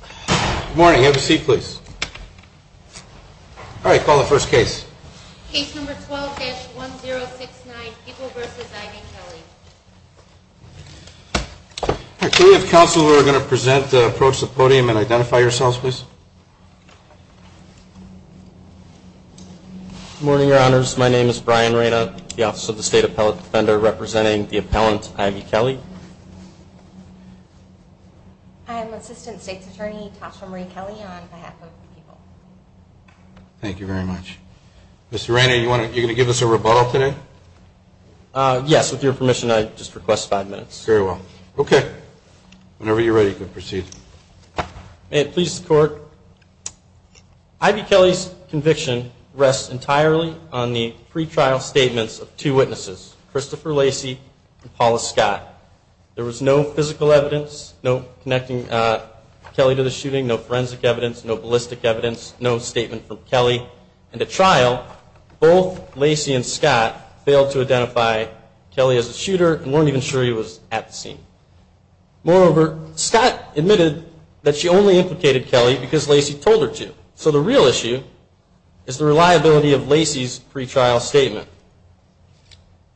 Good morning. Have a seat, please. All right, call the first case. Case number 12-1069, Ivo v. I.V. Kelly. Could we have counsel who are going to present, approach the podium, and identify yourselves, please? Good morning, Your Honors. My name is Brian Reyna, the Office of the State Appellate Defender, representing the appellant I.V. Kelly. I'm Assistant State's Attorney Tasha Marie Kelly on behalf of the people. Thank you very much. Mr. Reyna, you're going to give us a rebuttal today? Yes, with your permission, I'd just request five minutes. Very well. Okay. Whenever you're ready, you can proceed. May it please the Court, I.V. Kelly's conviction rests entirely on the pretrial statements of two witnesses, Christopher Lacey and Paula Scott. There was no physical evidence, no connecting Kelly to the shooting, no forensic evidence, no ballistic evidence, no statement from Kelly. And at trial, both Lacey and Scott failed to identify Kelly as a shooter and weren't even sure he was at the scene. Moreover, Scott admitted that she only implicated Kelly because Lacey told her to. So the real issue is the reliability of Lacey's pretrial statement.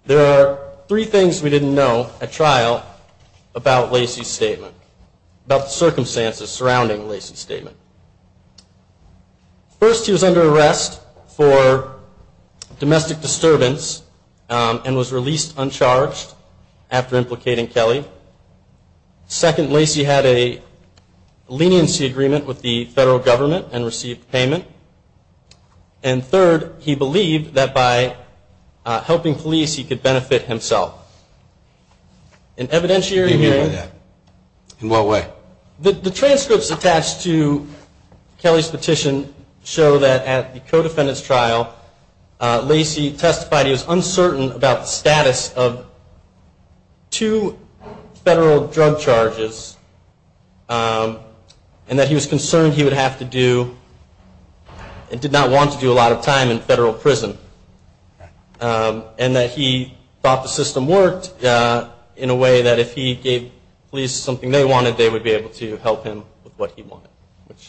There are three things we didn't know at trial about Lacey's statement, about the circumstances surrounding Lacey's statement. First, he was under arrest for domestic disturbance and was released uncharged after implicating Kelly. Second, Lacey had a leniency agreement with the federal government and received payment. And third, he believed that by helping police, he could benefit himself. An evidentiary hearing. What do you mean by that? In what way? The transcripts attached to Kelly's petition show that at the co-defendant's trial, Lacey testified he was uncertain about the status of two federal drug charges, and that he was concerned he would have to do, and did not want to do a lot of time in federal prison. And that he thought the system worked in a way that if he gave police something they wanted, they would be able to help him with what he wanted, which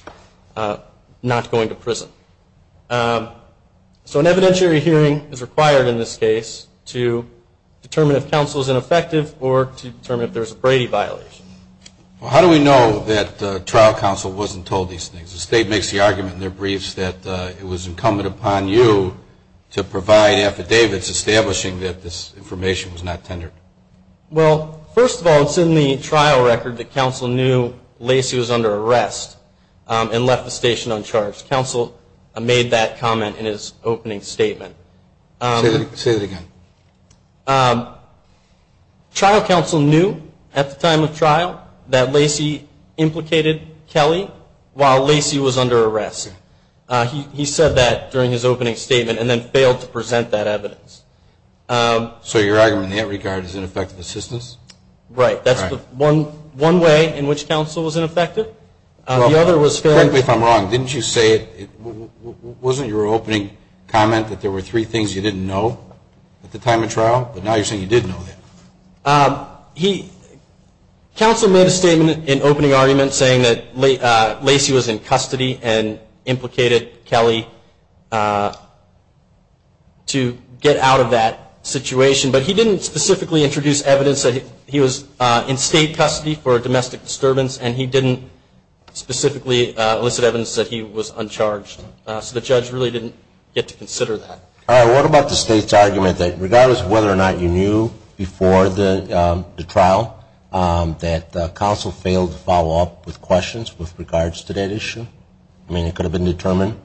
is not going to prison. So an evidentiary hearing is required in this case to determine if counsel is ineffective or to determine if there is a Brady violation. How do we know that trial counsel wasn't told these things? The state makes the argument in their briefs that it was incumbent upon you to provide affidavits establishing that this information was not tendered. Well, first of all, it's in the trial record that counsel knew Lacey was under arrest and left the station uncharged. Counsel made that comment in his opening statement. Say that again. Trial counsel knew at the time of trial that Lacey implicated Kelly while Lacey was under arrest. He said that during his opening statement and then failed to present that evidence. So your argument in that regard is ineffective assistance? Right. That's one way in which counsel was ineffective. Frankly, if I'm wrong, wasn't your opening comment that there were three things you didn't know at the time of trial? But now you're saying you did know that. Counsel made a statement in opening argument saying that Lacey was in custody and implicated Kelly to get out of that situation. But he didn't specifically introduce evidence that he was in state custody for a domestic disturbance and he didn't specifically elicit evidence that he was uncharged. So the judge really didn't get to consider that. All right. What about the state's argument that regardless of whether or not you knew before the trial, that counsel failed to follow up with questions with regards to that issue? I mean, it could have been determined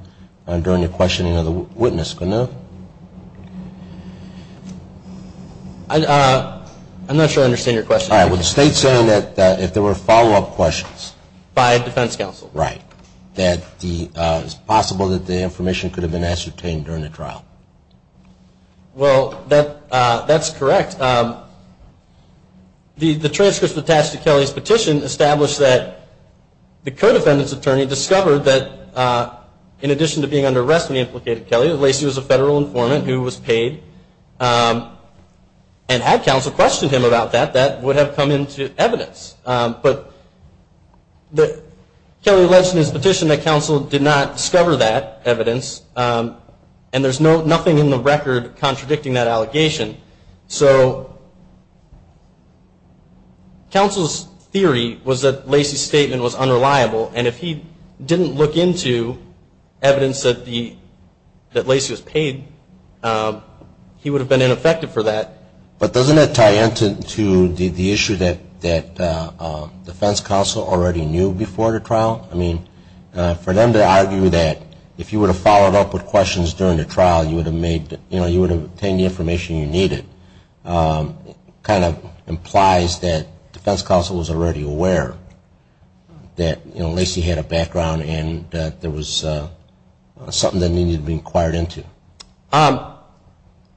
during the questioning of the witness, couldn't it? I'm not sure I understand your question. All right. Well, the state's saying that if there were follow-up questions. By defense counsel. Right. That it's possible that the information could have been ascertained during the trial. Well, that's correct. The transcripts attached to Kelly's petition establish that the co-defendant's attorney discovered that in addition to being under arrest when he implicated Kelly, Lacey was a federal informant who was paid and had counsel question him about that. That would have come into evidence. But Kelly alleged in his petition that counsel did not discover that evidence and there's nothing in the record contradicting that allegation. So counsel's theory was that Lacey's statement was unreliable, and if he didn't look into evidence that Lacey was paid, he would have been ineffective for that. But doesn't that tie into the issue that defense counsel already knew before the trial? I mean, for them to argue that if you would have followed up with questions during the trial, you would have obtained the information you needed. It kind of implies that defense counsel was already aware that Lacey had a background and that there was something that needed to be inquired into.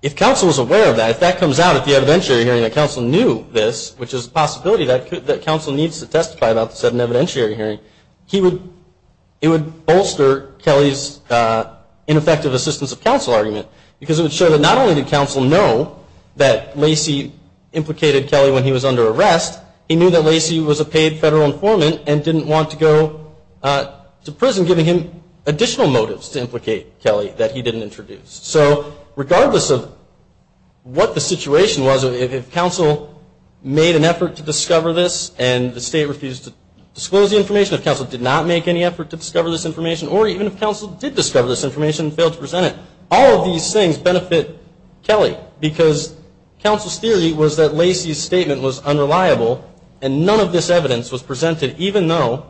If counsel was aware of that, if that comes out at the evidentiary hearing that counsel knew this, which is a possibility that counsel needs to testify about this at an evidentiary hearing, it would bolster Kelly's ineffective assistance of counsel argument because it would show that not only did counsel know that Lacey implicated Kelly when he was under arrest, he knew that Lacey was a paid federal informant and didn't want to go to prison, giving him additional motives to implicate Kelly that he didn't introduce. So regardless of what the situation was, if counsel made an effort to discover this and the state refused to disclose the information, if counsel did not make any effort to discover this information, or even if counsel did discover this information and failed to present it, all of these things benefit Kelly because counsel's theory was that Lacey's statement was unreliable and none of this evidence was presented even though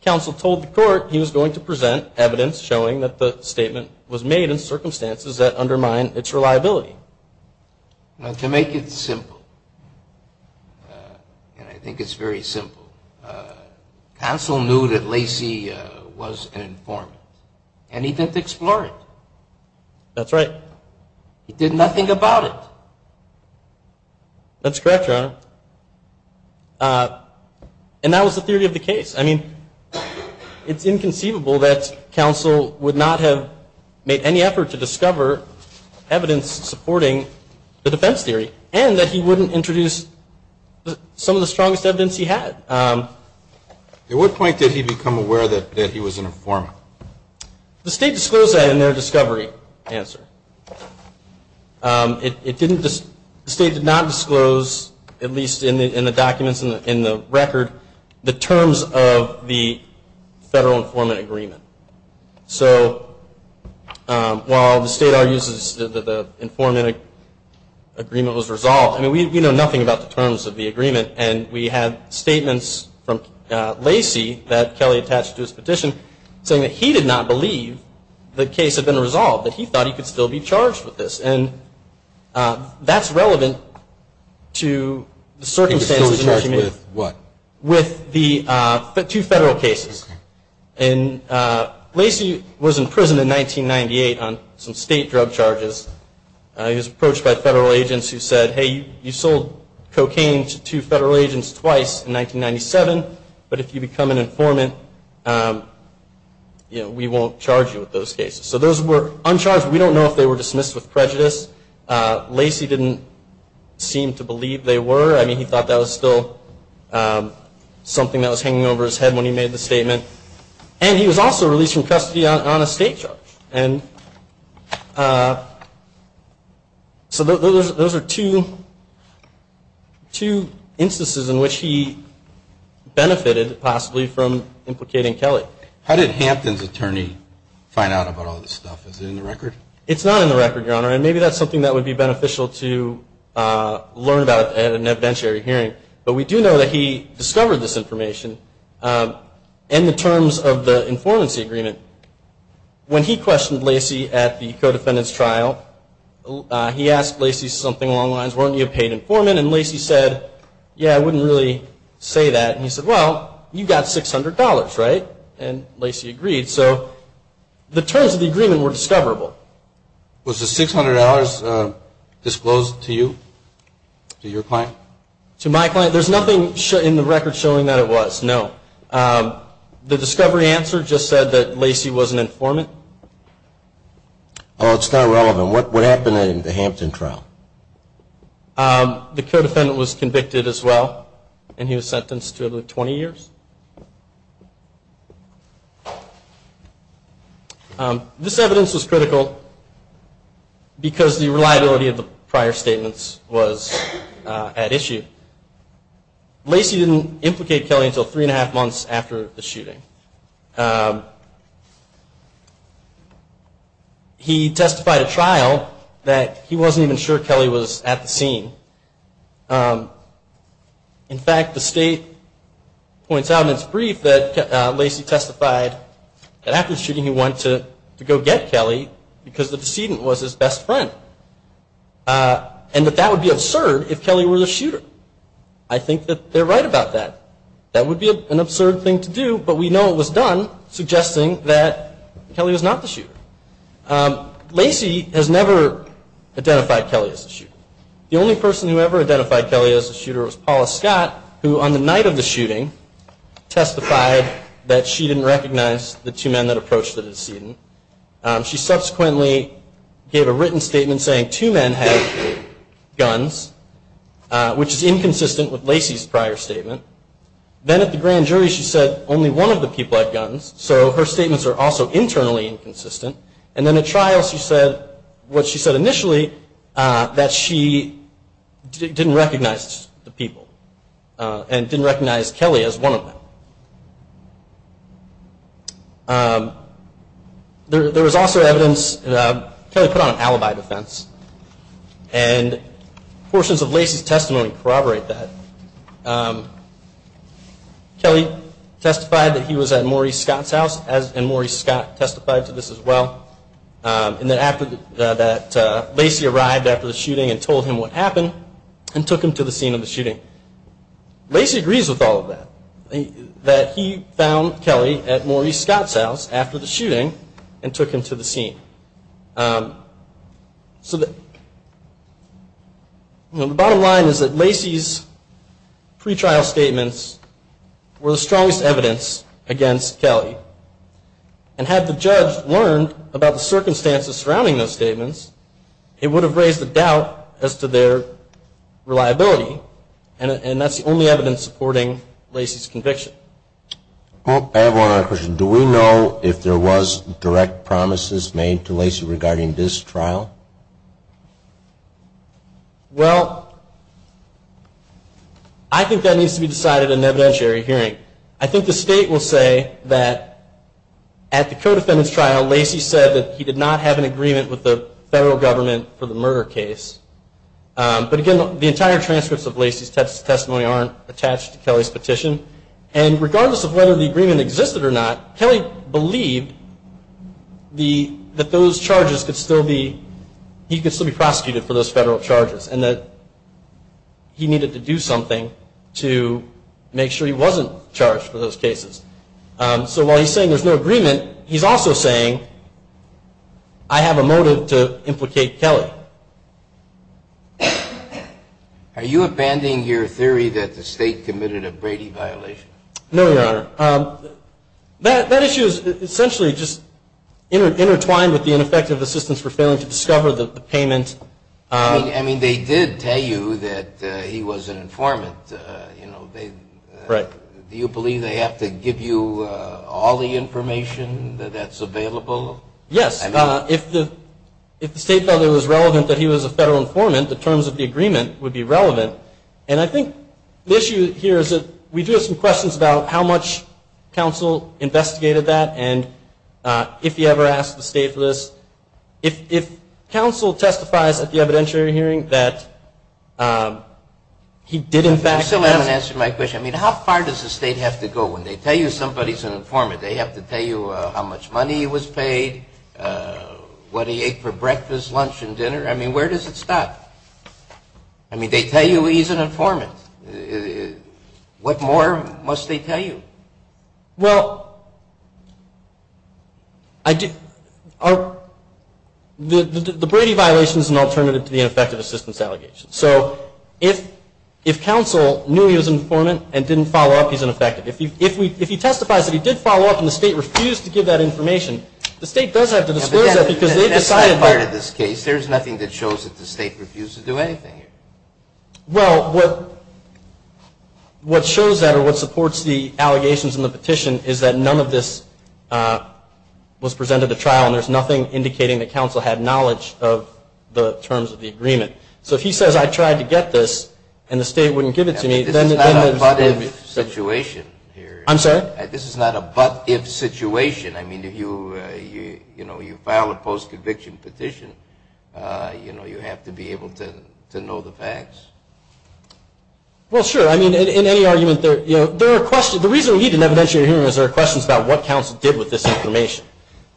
counsel told the court he was going to present evidence showing that the statement was made in circumstances that undermine its reliability. To make it simple, and I think it's very simple, counsel knew that Lacey was an informant and he didn't explore it. That's right. He did nothing about it. That's correct, Your Honor. And that was the theory of the case. I mean, it's inconceivable that counsel would not have made any effort to discover evidence supporting the defense theory and that he wouldn't introduce some of the strongest evidence he had. At what point did he become aware that he was an informant? The state disclosed that in their discovery answer. The state did not disclose, at least in the documents in the record, the terms of the federal informant agreement. So while the state argues that the informant agreement was resolved, I mean, we know nothing about the terms of the agreement, and we have statements from Lacey that Kelly attached to his petition saying that he did not believe the case had been resolved, that he thought he could still be charged with this. And that's relevant to the circumstances in which he made it. He was still charged with what? With the two federal cases. Okay. And Lacey was in prison in 1998 on some state drug charges. He was approached by federal agents who said, hey, you sold cocaine to two federal agents twice in 1997, but if you become an informant, you know, we won't charge you with those cases. So those were uncharged. We don't know if they were dismissed with prejudice. Lacey didn't seem to believe they were. I mean, he thought that was still something that was hanging over his head when he made the statement. And he was also released from custody on a state charge. And so those are two instances in which he benefited possibly from implicating Kelly. How did Hampton's attorney find out about all this stuff? Is it in the record? It's not in the record, Your Honor, and maybe that's something that would be beneficial to learn about at an evidentiary hearing. But we do know that he discovered this information in the terms of the informancy agreement. When he questioned Lacey at the co-defendant's trial, he asked Lacey something along the lines, weren't you a paid informant? And Lacey said, yeah, I wouldn't really say that. And he said, well, you got $600, right? And Lacey agreed. So the terms of the agreement were discoverable. Was the $600 disclosed to you, to your client? To my client? There's nothing in the record showing that it was, no. The discovery answer just said that Lacey was an informant. Oh, it's not relevant. What happened in the Hampton trial? The co-defendant was convicted as well, and he was sentenced to 20 years. This evidence was critical because the reliability of the prior statements was at issue. Lacey didn't implicate Kelly until three and a half months after the shooting. He testified at trial that he wasn't even sure Kelly was at the scene. In fact, the state points out in its brief that Lacey testified that after the shooting, he went to go get Kelly because the decedent was his best friend, and that that would be absurd if Kelly were the shooter. I think that they're right about that. That would be an absurd thing to do, but we know it was done, suggesting that Kelly was not the shooter. Lacey has never identified Kelly as the shooter. The only person who ever identified Kelly as the shooter was Paula Scott, who on the night of the shooting testified that she didn't recognize the two men that approached the decedent. She subsequently gave a written statement saying two men had guns, which is inconsistent with Lacey's prior statement. Then at the grand jury she said only one of the people had guns, so her statements are also internally inconsistent. And then at trial she said what she said initially, that she didn't recognize the people and didn't recognize Kelly as one of them. There was also evidence, Kelly put on an alibi defense, and portions of Lacey's testimony corroborate that. Kelly testified that he was at Maury Scott's house, and Maury Scott testified to this as well, and that Lacey arrived after the shooting and told him what happened, and took him to the scene of the shooting. Lacey agrees with all of that, that he found Kelly at Maury Scott's house after the shooting and took him to the scene. So the bottom line is that Lacey's pretrial statements were the strongest evidence against Kelly, and had the judge learned about the circumstances surrounding those statements, it would have raised a doubt as to their reliability, and that's the only evidence supporting Lacey's conviction. I have one other question. Do we know if there was direct promises made to Lacey regarding this trial? Well, I think that needs to be decided in an evidentiary hearing. I think the state will say that at the co-defendant's trial, Lacey said that he did not have an agreement with the federal government for the murder case. But again, the entire transcripts of Lacey's testimony aren't attached to Kelly's petition, and regardless of whether the agreement existed or not, Kelly believed that those charges could still be, he could still be prosecuted for those federal charges, and that he needed to do something to make sure he wasn't charged for those cases. So while he's saying there's no agreement, he's also saying, I have a motive to implicate Kelly. Are you abandoning your theory that the state committed a Brady violation? No, Your Honor. That issue is essentially just intertwined with the ineffective assistance for failing to discover the payment. I mean, they did tell you that he was an informant. Right. Do you believe they have to give you all the information that's available? Yes. If the state felt it was relevant that he was a federal informant, the terms of the agreement would be relevant. And I think the issue here is that we do have some questions about how much counsel investigated that, and if he ever asked the state for this. If counsel testifies at the evidentiary hearing that he did, in fact, I still haven't answered my question. I mean, how far does the state have to go? When they tell you somebody's an informant, they have to tell you how much money he was paid, what he ate for breakfast, lunch, and dinner? I mean, where does it stop? I mean, they tell you he's an informant. What more must they tell you? Well, the Brady violation is an alternative to the ineffective assistance allegations. So if counsel knew he was an informant and didn't follow up, he's ineffective. If he testifies that he did follow up and the state refused to give that information, the state does have to disclose that because they decided that. But that's not part of this case. There's nothing that shows that the state refused to do anything here. Well, what shows that or what supports the allegations in the petition is that none of this was presented to trial, and there's nothing indicating that counsel had knowledge of the terms of the agreement. So if he says, I tried to get this, and the state wouldn't give it to me, then there's no reason. This is not a but-if situation here. I'm sorry? This is not a but-if situation. I mean, if you file a post-conviction petition, you have to be able to know the facts. Well, sure. I mean, in any argument, there are questions. The reason we need an evidentiary hearing is there are questions about what counsel did with this information.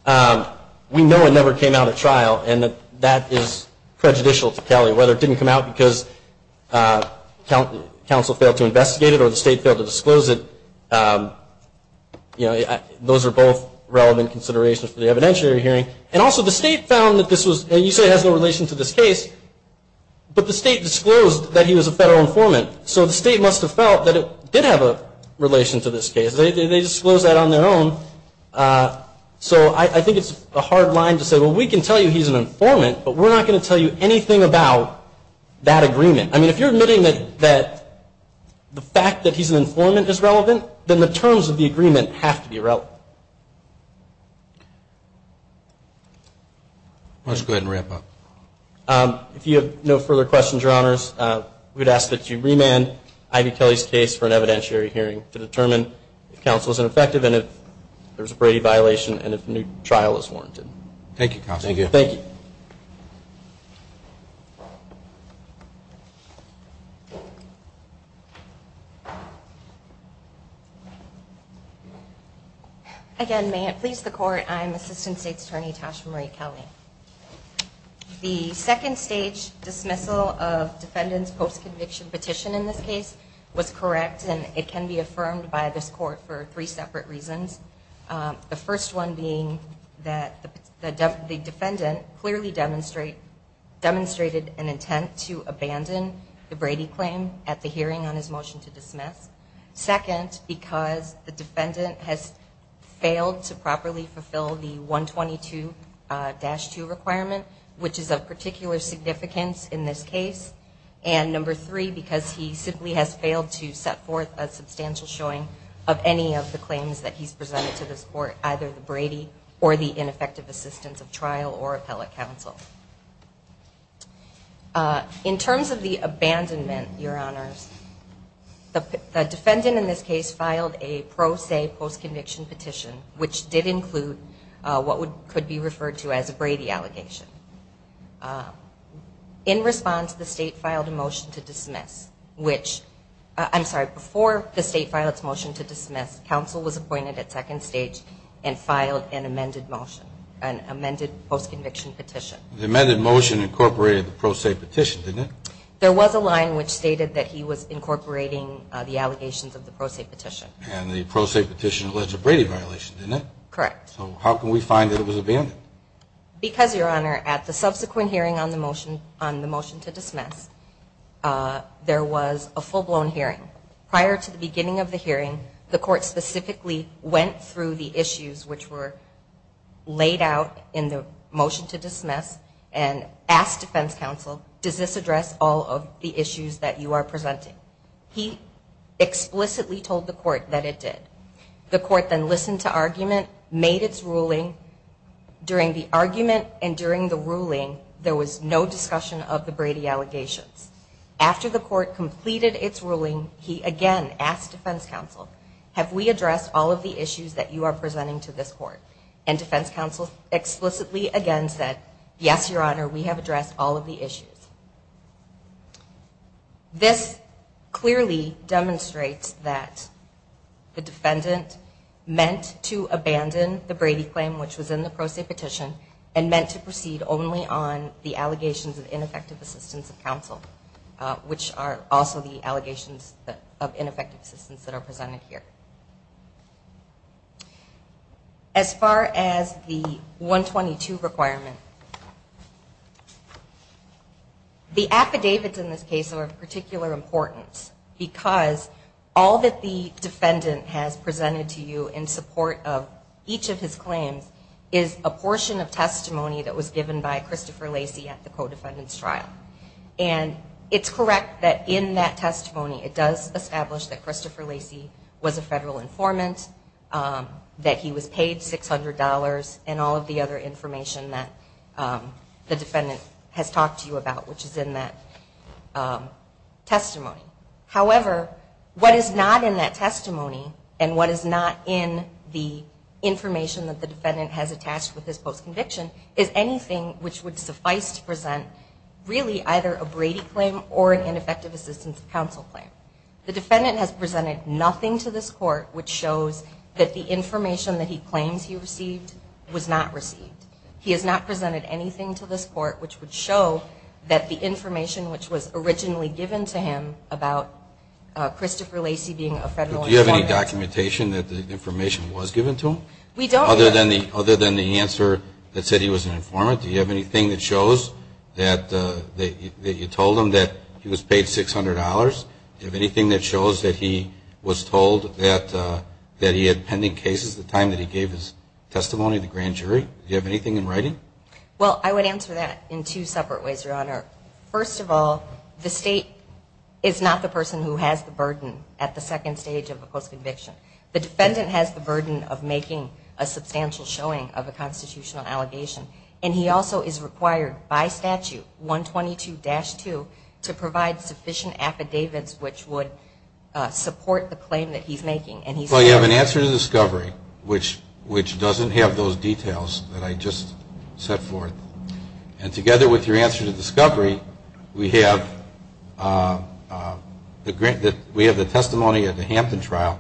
We know it never came out at trial, and that is prejudicial to Kelly. Whether it didn't come out because counsel failed to investigate it or the state failed to disclose it, those are both relevant considerations for the evidentiary hearing. And also, the state found that this was, and you say it has no relation to this case, but the state disclosed that he was a federal informant, so the state must have felt that it did have a relation to this case. They disclosed that on their own, so I think it's a hard line to say, well, we can tell you he's an informant, but we're not going to tell you anything about that agreement. I mean, if you're admitting that the fact that he's an informant is relevant, then the terms of the agreement have to be relevant. Let's go ahead and wrap up. If you have no further questions, Your Honors, we would ask that you remand Ivy Kelly's case for an evidentiary hearing to determine if counsel is ineffective and if there is a Brady violation and if a new trial is warranted. Thank you, counsel. Thank you. Again, may it please the Court, I am Assistant State's Attorney Tasha Marie Kelly. The second stage dismissal of defendant's post-conviction petition in this case was correct, and it can be affirmed by this Court for three separate reasons, the first one being that the defendant clearly demonstrated an intent to abandon the Brady claim at the hearing on his motion to dismiss, second, because the defendant has failed to properly fulfill the 122-2 requirement, which is of particular significance in this case, and number three, because he simply has failed to set forth a substantial showing of any of the claims that he's presented to this Court, either the Brady or the ineffective assistance of trial or appellate counsel. In terms of the abandonment, Your Honors, the defendant in this case filed a pro se post-conviction petition, which did include what could be referred to as a Brady allegation. In response, the state filed a motion to dismiss, which, I'm sorry, before the state filed its motion to dismiss, counsel was appointed at second stage and filed an amended motion, The amended motion incorporated the pro se petition, didn't it? There was a line which stated that he was incorporating the allegations of the pro se petition. And the pro se petition alleged a Brady violation, didn't it? Correct. So how can we find that it was abandoned? Because, Your Honor, at the subsequent hearing on the motion to dismiss, there was a full-blown hearing. Prior to the beginning of the hearing, the Court specifically went through the issues which were laid out in the motion to dismiss and asked defense counsel, does this address all of the issues that you are presenting? He explicitly told the Court that it did. The Court then listened to argument, made its ruling. During the argument and during the ruling, there was no discussion of the Brady allegations. After the Court completed its ruling, he again asked defense counsel, have we addressed all of the issues that you are presenting to this Court? And defense counsel explicitly again said, yes, Your Honor, we have addressed all of the issues. This clearly demonstrates that the defendant meant to abandon the Brady claim, which was in the pro se petition, and meant to proceed only on the allegations of ineffective assistance of counsel, which are also the allegations of ineffective assistance that are presented here. As far as the 122 requirement, the affidavits in this case are of particular importance because all that the defendant has presented to you in support of each of his claims is a portion of testimony that was given by Christopher Lacy at the co-defendant's trial. And it's correct that in that testimony, it does establish that Christopher Lacy was a federal informant, that he was paid $600, and all of the other information that the defendant has talked to you about, which is in that testimony. However, what is not in that testimony and what is not in the information that the defendant has attached with his post-conviction is anything which would suffice to present really either a Brady claim or an ineffective assistance of counsel claim. The defendant has presented nothing to this Court which shows that the information that he claims he received was not received. He has not presented anything to this Court which would show that the information which was originally given to him about Christopher Lacy being a federal informant. Do you have any documentation that the information was given to him? We don't. Other than the answer that said he was an informant, do you have anything that shows that you told him that he was paid $600? Do you have anything that shows that he was told that he had pending cases at the time that he gave his testimony to the grand jury? Do you have anything in writing? Well, I would answer that in two separate ways, Your Honor. First of all, the State is not the person who has the burden at the second stage of a post-conviction. The defendant has the burden of making a substantial showing of a constitutional allegation, and he also is required by statute 122-2 to provide sufficient affidavits which would support the claim that he's making. Well, you have an answer to discovery, which doesn't have those details that I just set forth. And together with your answer to discovery, we have the testimony at the Hampton trial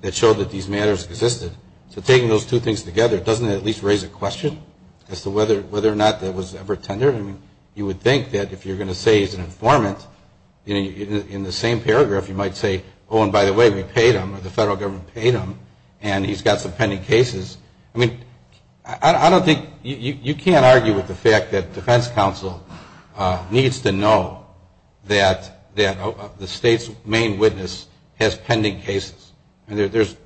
that showed that these matters existed. So taking those two things together, doesn't it at least raise a question as to whether or not that was ever tendered? I mean, you would think that if you're going to say he's an informant, in the same paragraph you might say, oh, and by the way, we paid him, or the federal government paid him, and he's got some pending cases. I mean, I don't think, you can't argue with the fact that defense counsel needs to know that the State's main witness has pending cases. I mean, there's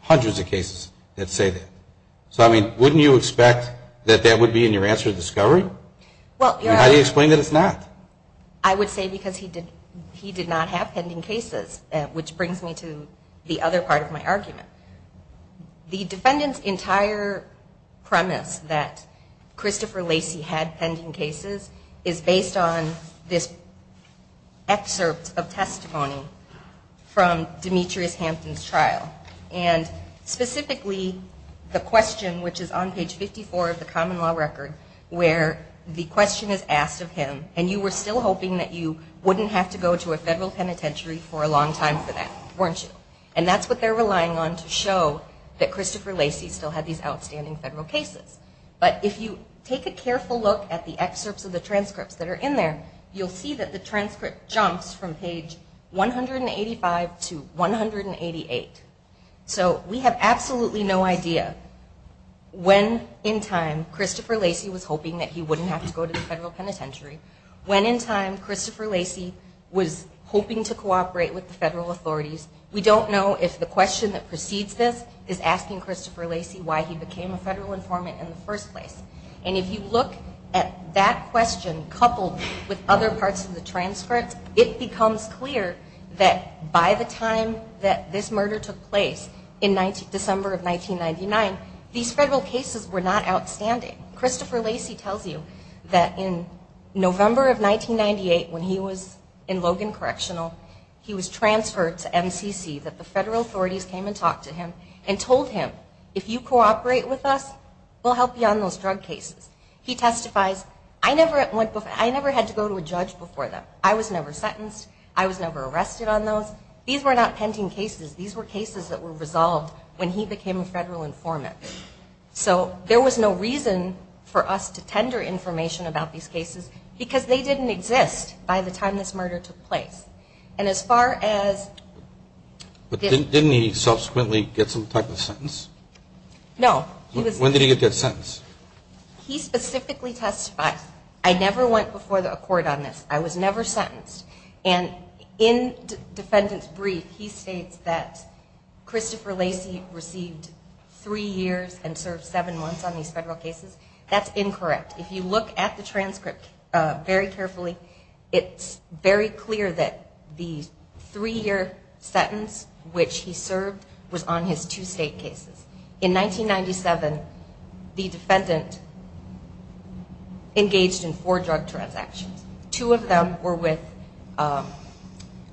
hundreds of cases that say that. So, I mean, wouldn't you expect that that would be in your answer to discovery? How do you explain that it's not? I would say because he did not have pending cases, which brings me to the other part of my argument. The defendant's entire premise that Christopher Lacey had pending cases is based on this excerpt of testimony from Demetrius Hampton's trial, and specifically the question, which is on page 54 of the common law record, where the question is asked of him, and you were still hoping that you wouldn't have to go to a federal penitentiary for a long time for that, weren't you? And that's what they're relying on to show that Christopher Lacey still had these outstanding federal cases. But if you take a careful look at the excerpts of the transcripts that are in there, you'll see that the transcript jumps from page 185 to 188. So we have absolutely no idea when in time Christopher Lacey was hoping that he wouldn't have to go to the federal penitentiary, when in time Christopher Lacey was hoping to cooperate with the federal authorities. We don't know if the question that precedes this is asking Christopher Lacey why he became a federal informant in the first place. And if you look at that question coupled with other parts of the transcript, it becomes clear that by the time that this murder took place in December of 1999, these federal cases were not outstanding. Christopher Lacey tells you that in November of 1998, when he was in Logan Correctional, he was transferred to MCC, that the federal authorities came and talked to him and told him, if you cooperate with us, we'll help you on those drug cases. He testifies, I never had to go to a judge before that. I was never sentenced. I was never arrested on those. These were not pending cases. These were cases that were resolved when he became a federal informant. So there was no reason for us to tender information about these cases because they didn't exist by the time this murder took place. And as far as... But didn't he subsequently get some type of sentence? No. When did he get that sentence? He specifically testifies, I never went before a court on this. I was never sentenced. And in the defendant's brief, he states that Christopher Lacey received three years and served seven months on these federal cases. That's incorrect. If you look at the transcript very carefully, it's very clear that the three-year sentence which he served was on his two state cases. In 1997, the defendant engaged in four drug transactions. Two of them were with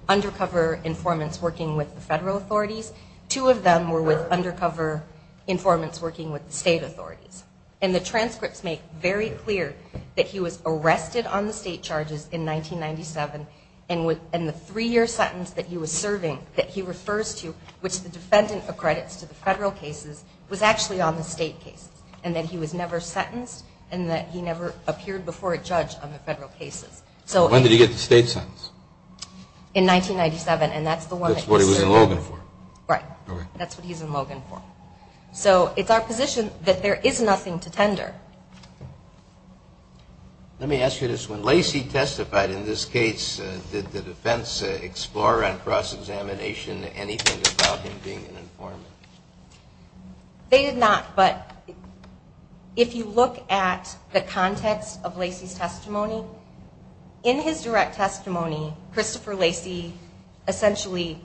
undercover informants working with the federal authorities. Two of them were with undercover informants working with the state authorities. And the transcripts make very clear that he was arrested on the state charges in 1997 and the three-year sentence that he was serving that he refers to, which the defendant accredits to the federal cases, was actually on the state cases and that he was never sentenced and that he never appeared before a judge on the federal cases. When did he get the state sentence? In 1997, and that's the one that he served. That's what he was in Logan for. Right. That's what he's in Logan for. So it's our position that there is nothing to tender. Let me ask you this. When Lacey testified in this case, did the defense explore on cross-examination anything about him being an informant? They did not, but if you look at the context of Lacey's testimony, in his direct testimony, Christopher Lacey essentially,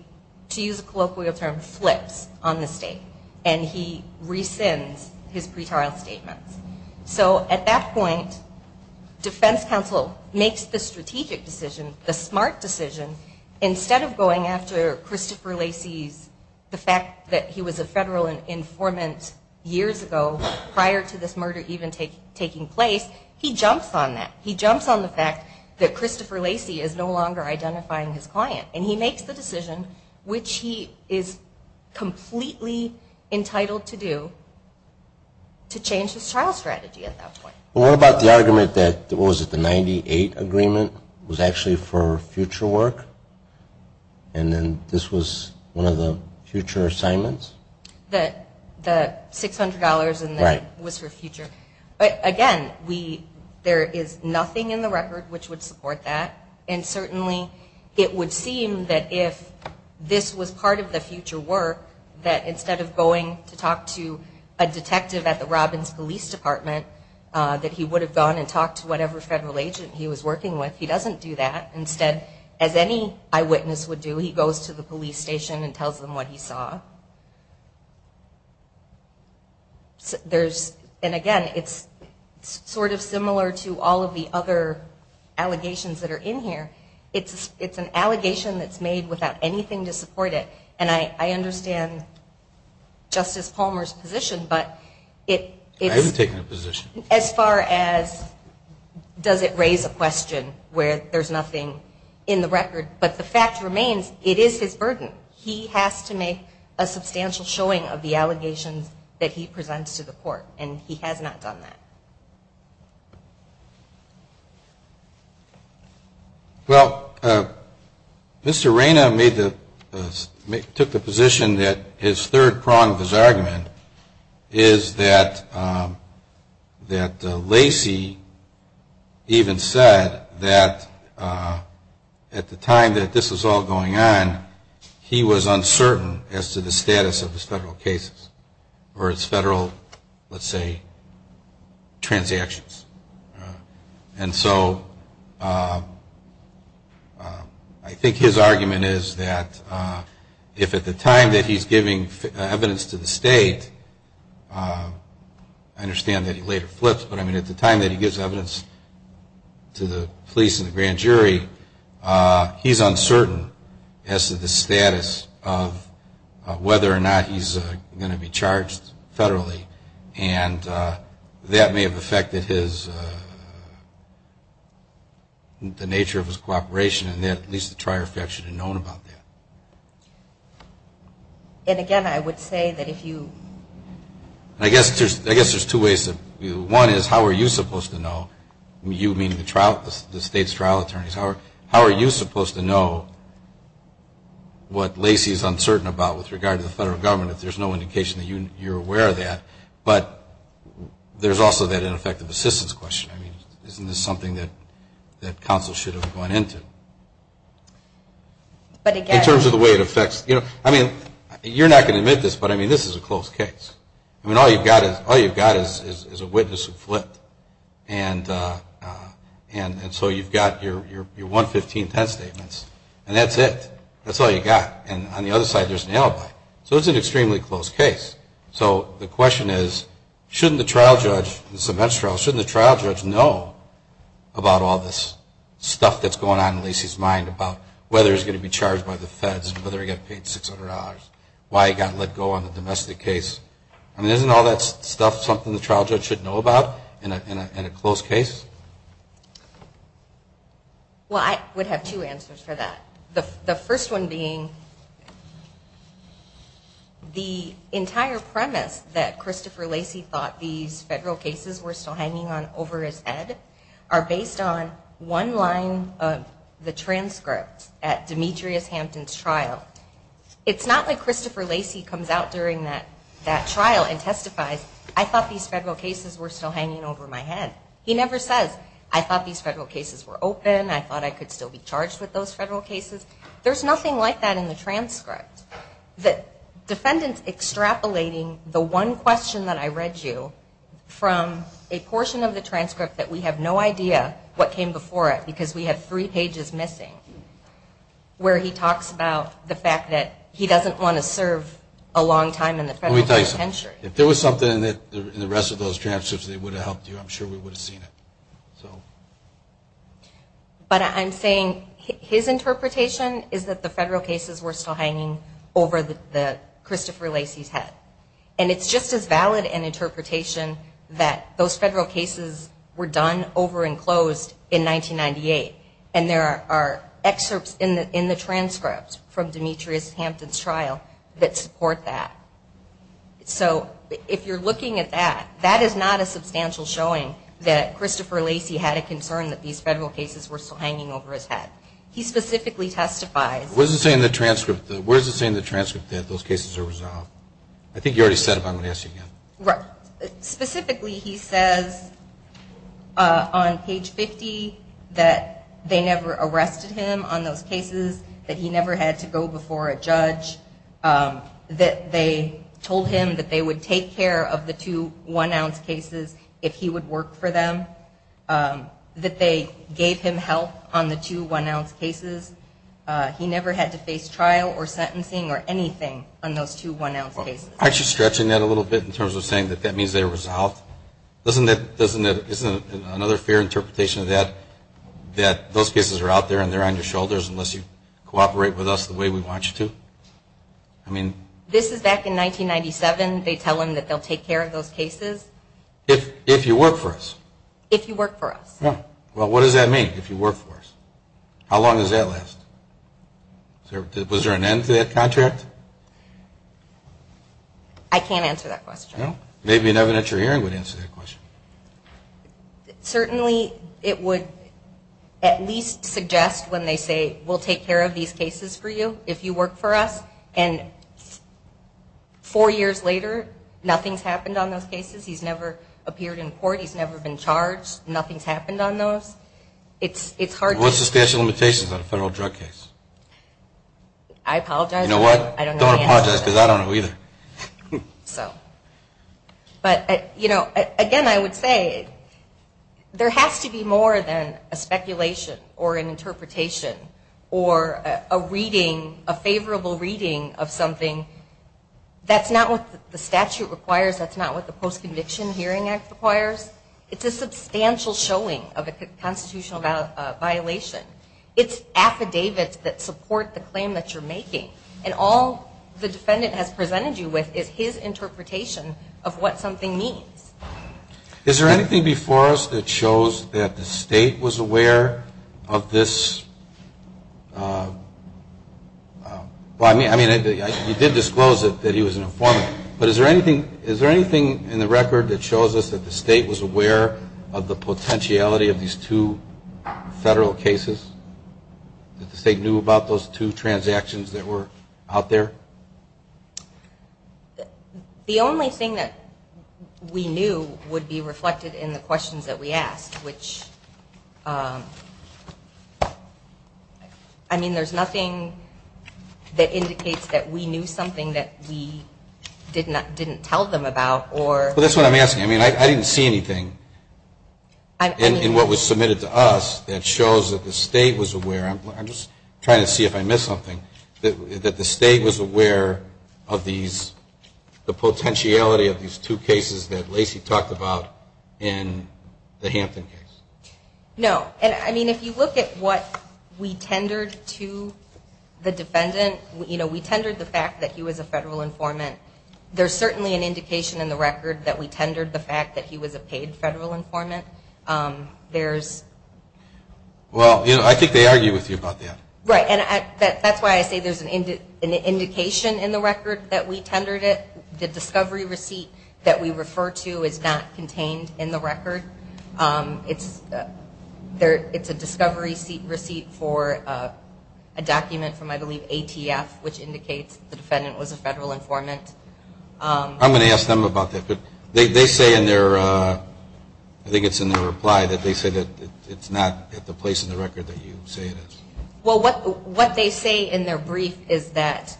to use a colloquial term, flips on the state and he rescinds his pretrial statements. So at that point, defense counsel makes the strategic decision, the smart decision, instead of going after Christopher Lacey's, the fact that he was a federal informant years ago, prior to this murder even taking place, he jumps on that. He jumps on the fact that Christopher Lacey is no longer identifying his client, and he makes the decision, which he is completely entitled to do, to change his trial strategy at that point. What about the argument that, what was it, the 98 agreement was actually for future work, and then this was one of the future assignments? The $600 and it was for future. Again, there is nothing in the record which would support that, and certainly it would seem that if this was part of the future work, that instead of going to talk to a detective at the Robbins Police Department, that he would have gone and talked to whatever federal agent he was working with. He doesn't do that. Instead, as any eyewitness would do, he goes to the police station and tells them what he saw. There's, and again, it's sort of similar to all of the other allegations that are in here. It's an allegation that's made without anything to support it, and I understand Justice Palmer's position, but it's. I haven't taken a position. As far as does it raise a question where there's nothing in the record, but the fact remains, it is his burden. He has to make a substantial showing of the allegations that he presents to the court, and he has not done that. Well, Mr. Reina took the position that his third prong of his argument is that Lacey even said that at the time that this was all going on, he was uncertain as to the status of his federal cases, or his federal, let's say, transactions. And so I think his argument is that if at the time that he's giving evidence to the state, I understand that he later flips, but at the time that he gives evidence to the police and the grand jury, he's uncertain as to the status of whether or not he's going to be charged federally, and that may have affected the nature of his cooperation, and at least the trier fact should have known about that. And, again, I would say that if you... I guess there's two ways. One is how are you supposed to know? You mean the state's trial attorneys. How are you supposed to know what Lacey is uncertain about with regard to the federal government if there's no indication that you're aware of that? But there's also that ineffective assistance question. I mean, isn't this something that counsel should have gone into? In terms of the way it affects... I mean, you're not going to admit this, but, I mean, this is a close case. I mean, all you've got is a witness who flipped, and so you've got your 1-15-10 statements, and that's it. That's all you've got. And on the other side, there's an alibi. So it's an extremely close case. So the question is, shouldn't the trial judge, the cement trial, shouldn't the trial judge know about all this stuff that's going on in Lacey's mind about whether he's going to be charged by the feds, whether he got paid $600, why he got let go on the domestic case? I mean, isn't all that stuff something the trial judge should know about in a close case? Well, I would have two answers for that. The first one being the entire premise that Christopher Lacey thought these federal cases were still hanging on over his head are based on one line of the transcript at Demetrius Hampton's trial. It's not like Christopher Lacey comes out during that trial and testifies, I thought these federal cases were still hanging over my head. He never says, I thought these federal cases were open, I thought I could still be charged with those federal cases. There's nothing like that in the transcript. The defendant's extrapolating the one question that I read you from a portion of the transcript that we have no idea what came before it because we have three pages missing, where he talks about the fact that he doesn't want to serve a long time in the federal judiciary. Let me tell you something. If there was something in the rest of those transcripts that would have helped you, I'm sure we would have seen it. But I'm saying his interpretation is that the federal cases were still hanging over Christopher Lacey's head. And it's just as valid an interpretation that those federal cases were done over and closed in 1998, and there are excerpts in the transcript from Demetrius Hampton's trial that support that. So if you're looking at that, that is not a substantial showing that Christopher Lacey had a concern that these federal cases were still hanging over his head. He specifically testifies. Where does it say in the transcript that those cases are resolved? I think you already said it, but I'm going to ask you again. Specifically, he says on page 50 that they never arrested him on those cases, that he never had to go before a judge, that they told him that they would take care of the two one-ounce cases if he would work for them, that they gave him help on the two one-ounce cases. He never had to face trial or sentencing or anything on those two one-ounce cases. Aren't you stretching that a little bit in terms of saying that that means they're resolved? Isn't another fair interpretation of that that those cases are out there and they're on your shoulders unless you cooperate with us the way we want you to? This is back in 1997. They tell him that they'll take care of those cases. If you work for us. If you work for us. Well, what does that mean, if you work for us? How long does that last? Was there an end to that contract? I can't answer that question. Maybe an evidentiary hearing would answer that question. Certainly it would at least suggest when they say we'll take care of these cases for you if you work for us. And four years later, nothing's happened on those cases. He's never appeared in court. He's never been charged. Nothing's happened on those. What's the statute of limitations on a federal drug case? I apologize. You know what? Don't apologize because I don't know either. Again, I would say there has to be more than a speculation or an interpretation or a reading, a favorable reading of something. That's not what the statute requires. That's not what the Post-Conviction Hearing Act requires. It's a substantial showing of a constitutional violation. It's affidavits that support the claim that you're making. And all the defendant has presented you with is his interpretation of what something means. Is there anything before us that shows that the state was aware of this? I mean, you did disclose that he was an informant. But is there anything in the record that shows us that the state was aware of the potentiality of these two federal cases, that the state knew about those two transactions that were out there? The only thing that we knew would be reflected in the questions that we asked, which, I mean, there's nothing that indicates that we knew something that we didn't tell them about. Well, that's what I'm asking. I mean, I didn't see anything in what was submitted to us that shows that the state was aware. I'm just trying to see if I missed something. That the state was aware of the potentiality of these two cases that Lacey talked about in the Hampton case. No. And, I mean, if you look at what we tendered to the defendant, you know, we tendered the fact that he was a federal informant. There's certainly an indication in the record that we tendered the fact that he was a paid federal informant. There's... Well, I think they argue with you about that. Right. And that's why I say there's an indication in the record that we tendered it. It's a discovery receipt for a document from, I believe, ATF, which indicates the defendant was a federal informant. I'm going to ask them about that, but they say in their... I think it's in their reply that they say that it's not at the place in the record that you say it is. Well, what they say in their brief is that...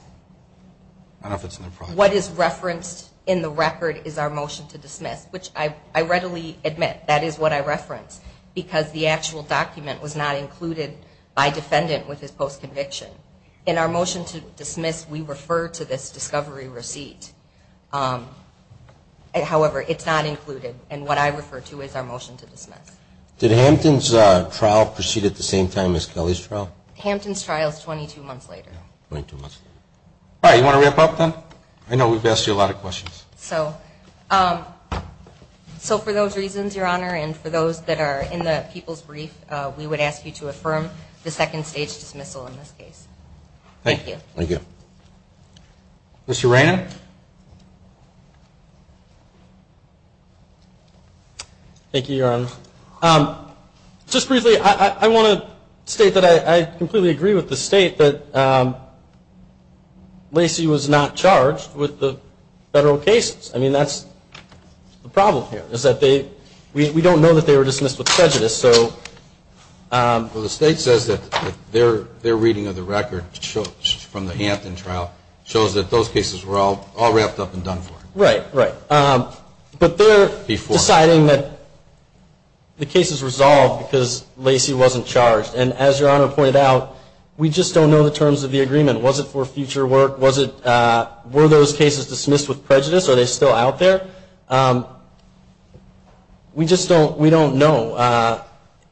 I don't know if it's in their reply. What is referenced in the record is our motion to dismiss, which I readily admit, that is what I reference, because the actual document was not included by defendant with his post-conviction. In our motion to dismiss, we refer to this discovery receipt. However, it's not included, and what I refer to is our motion to dismiss. Did Hampton's trial proceed at the same time as Kelly's trial? Hampton's trial is 22 months later. 22 months later. All right. You want to wrap up then? I know we've asked you a lot of questions. So for those reasons, Your Honor, and for those that are in the people's brief, we would ask you to affirm the second-stage dismissal in this case. Thank you. Thank you. Mr. Reynon? Thank you, Your Honor. Just briefly, I want to state that I completely agree with the State that Lacey was not charged with the federal cases. I mean, that's the problem here, is that we don't know that they were dismissed with prejudice. Well, the State says that their reading of the record from the Hampton trial shows that those cases were all wrapped up and done for. Right, right. But they're deciding that the case is resolved because Lacey wasn't charged. And as Your Honor pointed out, we just don't know the terms of the agreement. Was it for future work? Were those cases dismissed with prejudice? Are they still out there? We just don't know.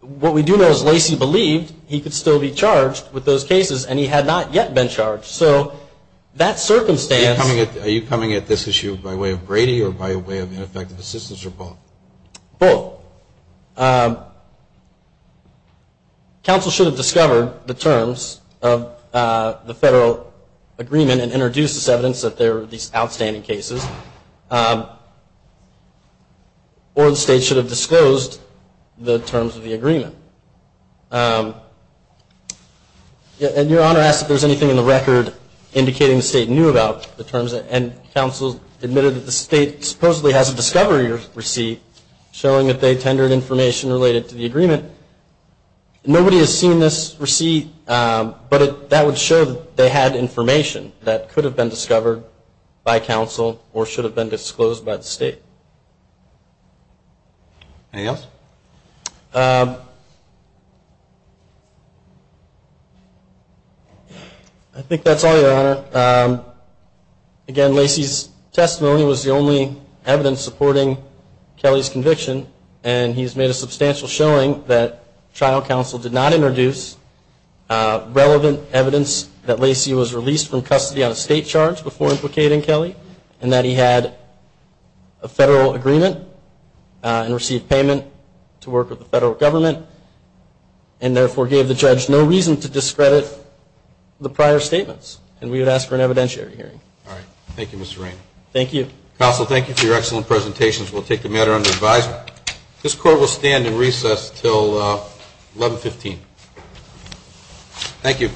What we do know is Lacey believed he could still be charged with those cases, and he had not yet been charged. So that circumstance Are you coming at this issue by way of Brady or by way of ineffective assistance, or both? Both. Counsel should have discovered the terms of the federal agreement and introduced this evidence that there were these outstanding cases. Or the State should have disclosed the terms of the agreement. And Your Honor asked if there was anything in the record indicating the State knew about the terms. And counsel admitted that the State supposedly has a discovery receipt showing that they tendered information related to the agreement. Nobody has seen this receipt, but that would show that they had information that could have been discovered by counsel or should have been disclosed by the State. Anything else? I think that's all, Your Honor. Again, Lacey's testimony was the only evidence supporting Kelly's conviction. And he's made a substantial showing that trial counsel did not introduce relevant evidence that Lacey was released from custody on a State charge before implicating Kelly. And that he had a federal agreement and received payment to work with the federal government. And therefore gave the judge no reason to discredit the prior statements. And we would ask for an evidentiary hearing. All right. Thank you, Mr. Rainey. Thank you. Counsel, thank you for your excellent presentations. We'll take the matter under advisement. This Court will stand in recess until 1115. Thank you.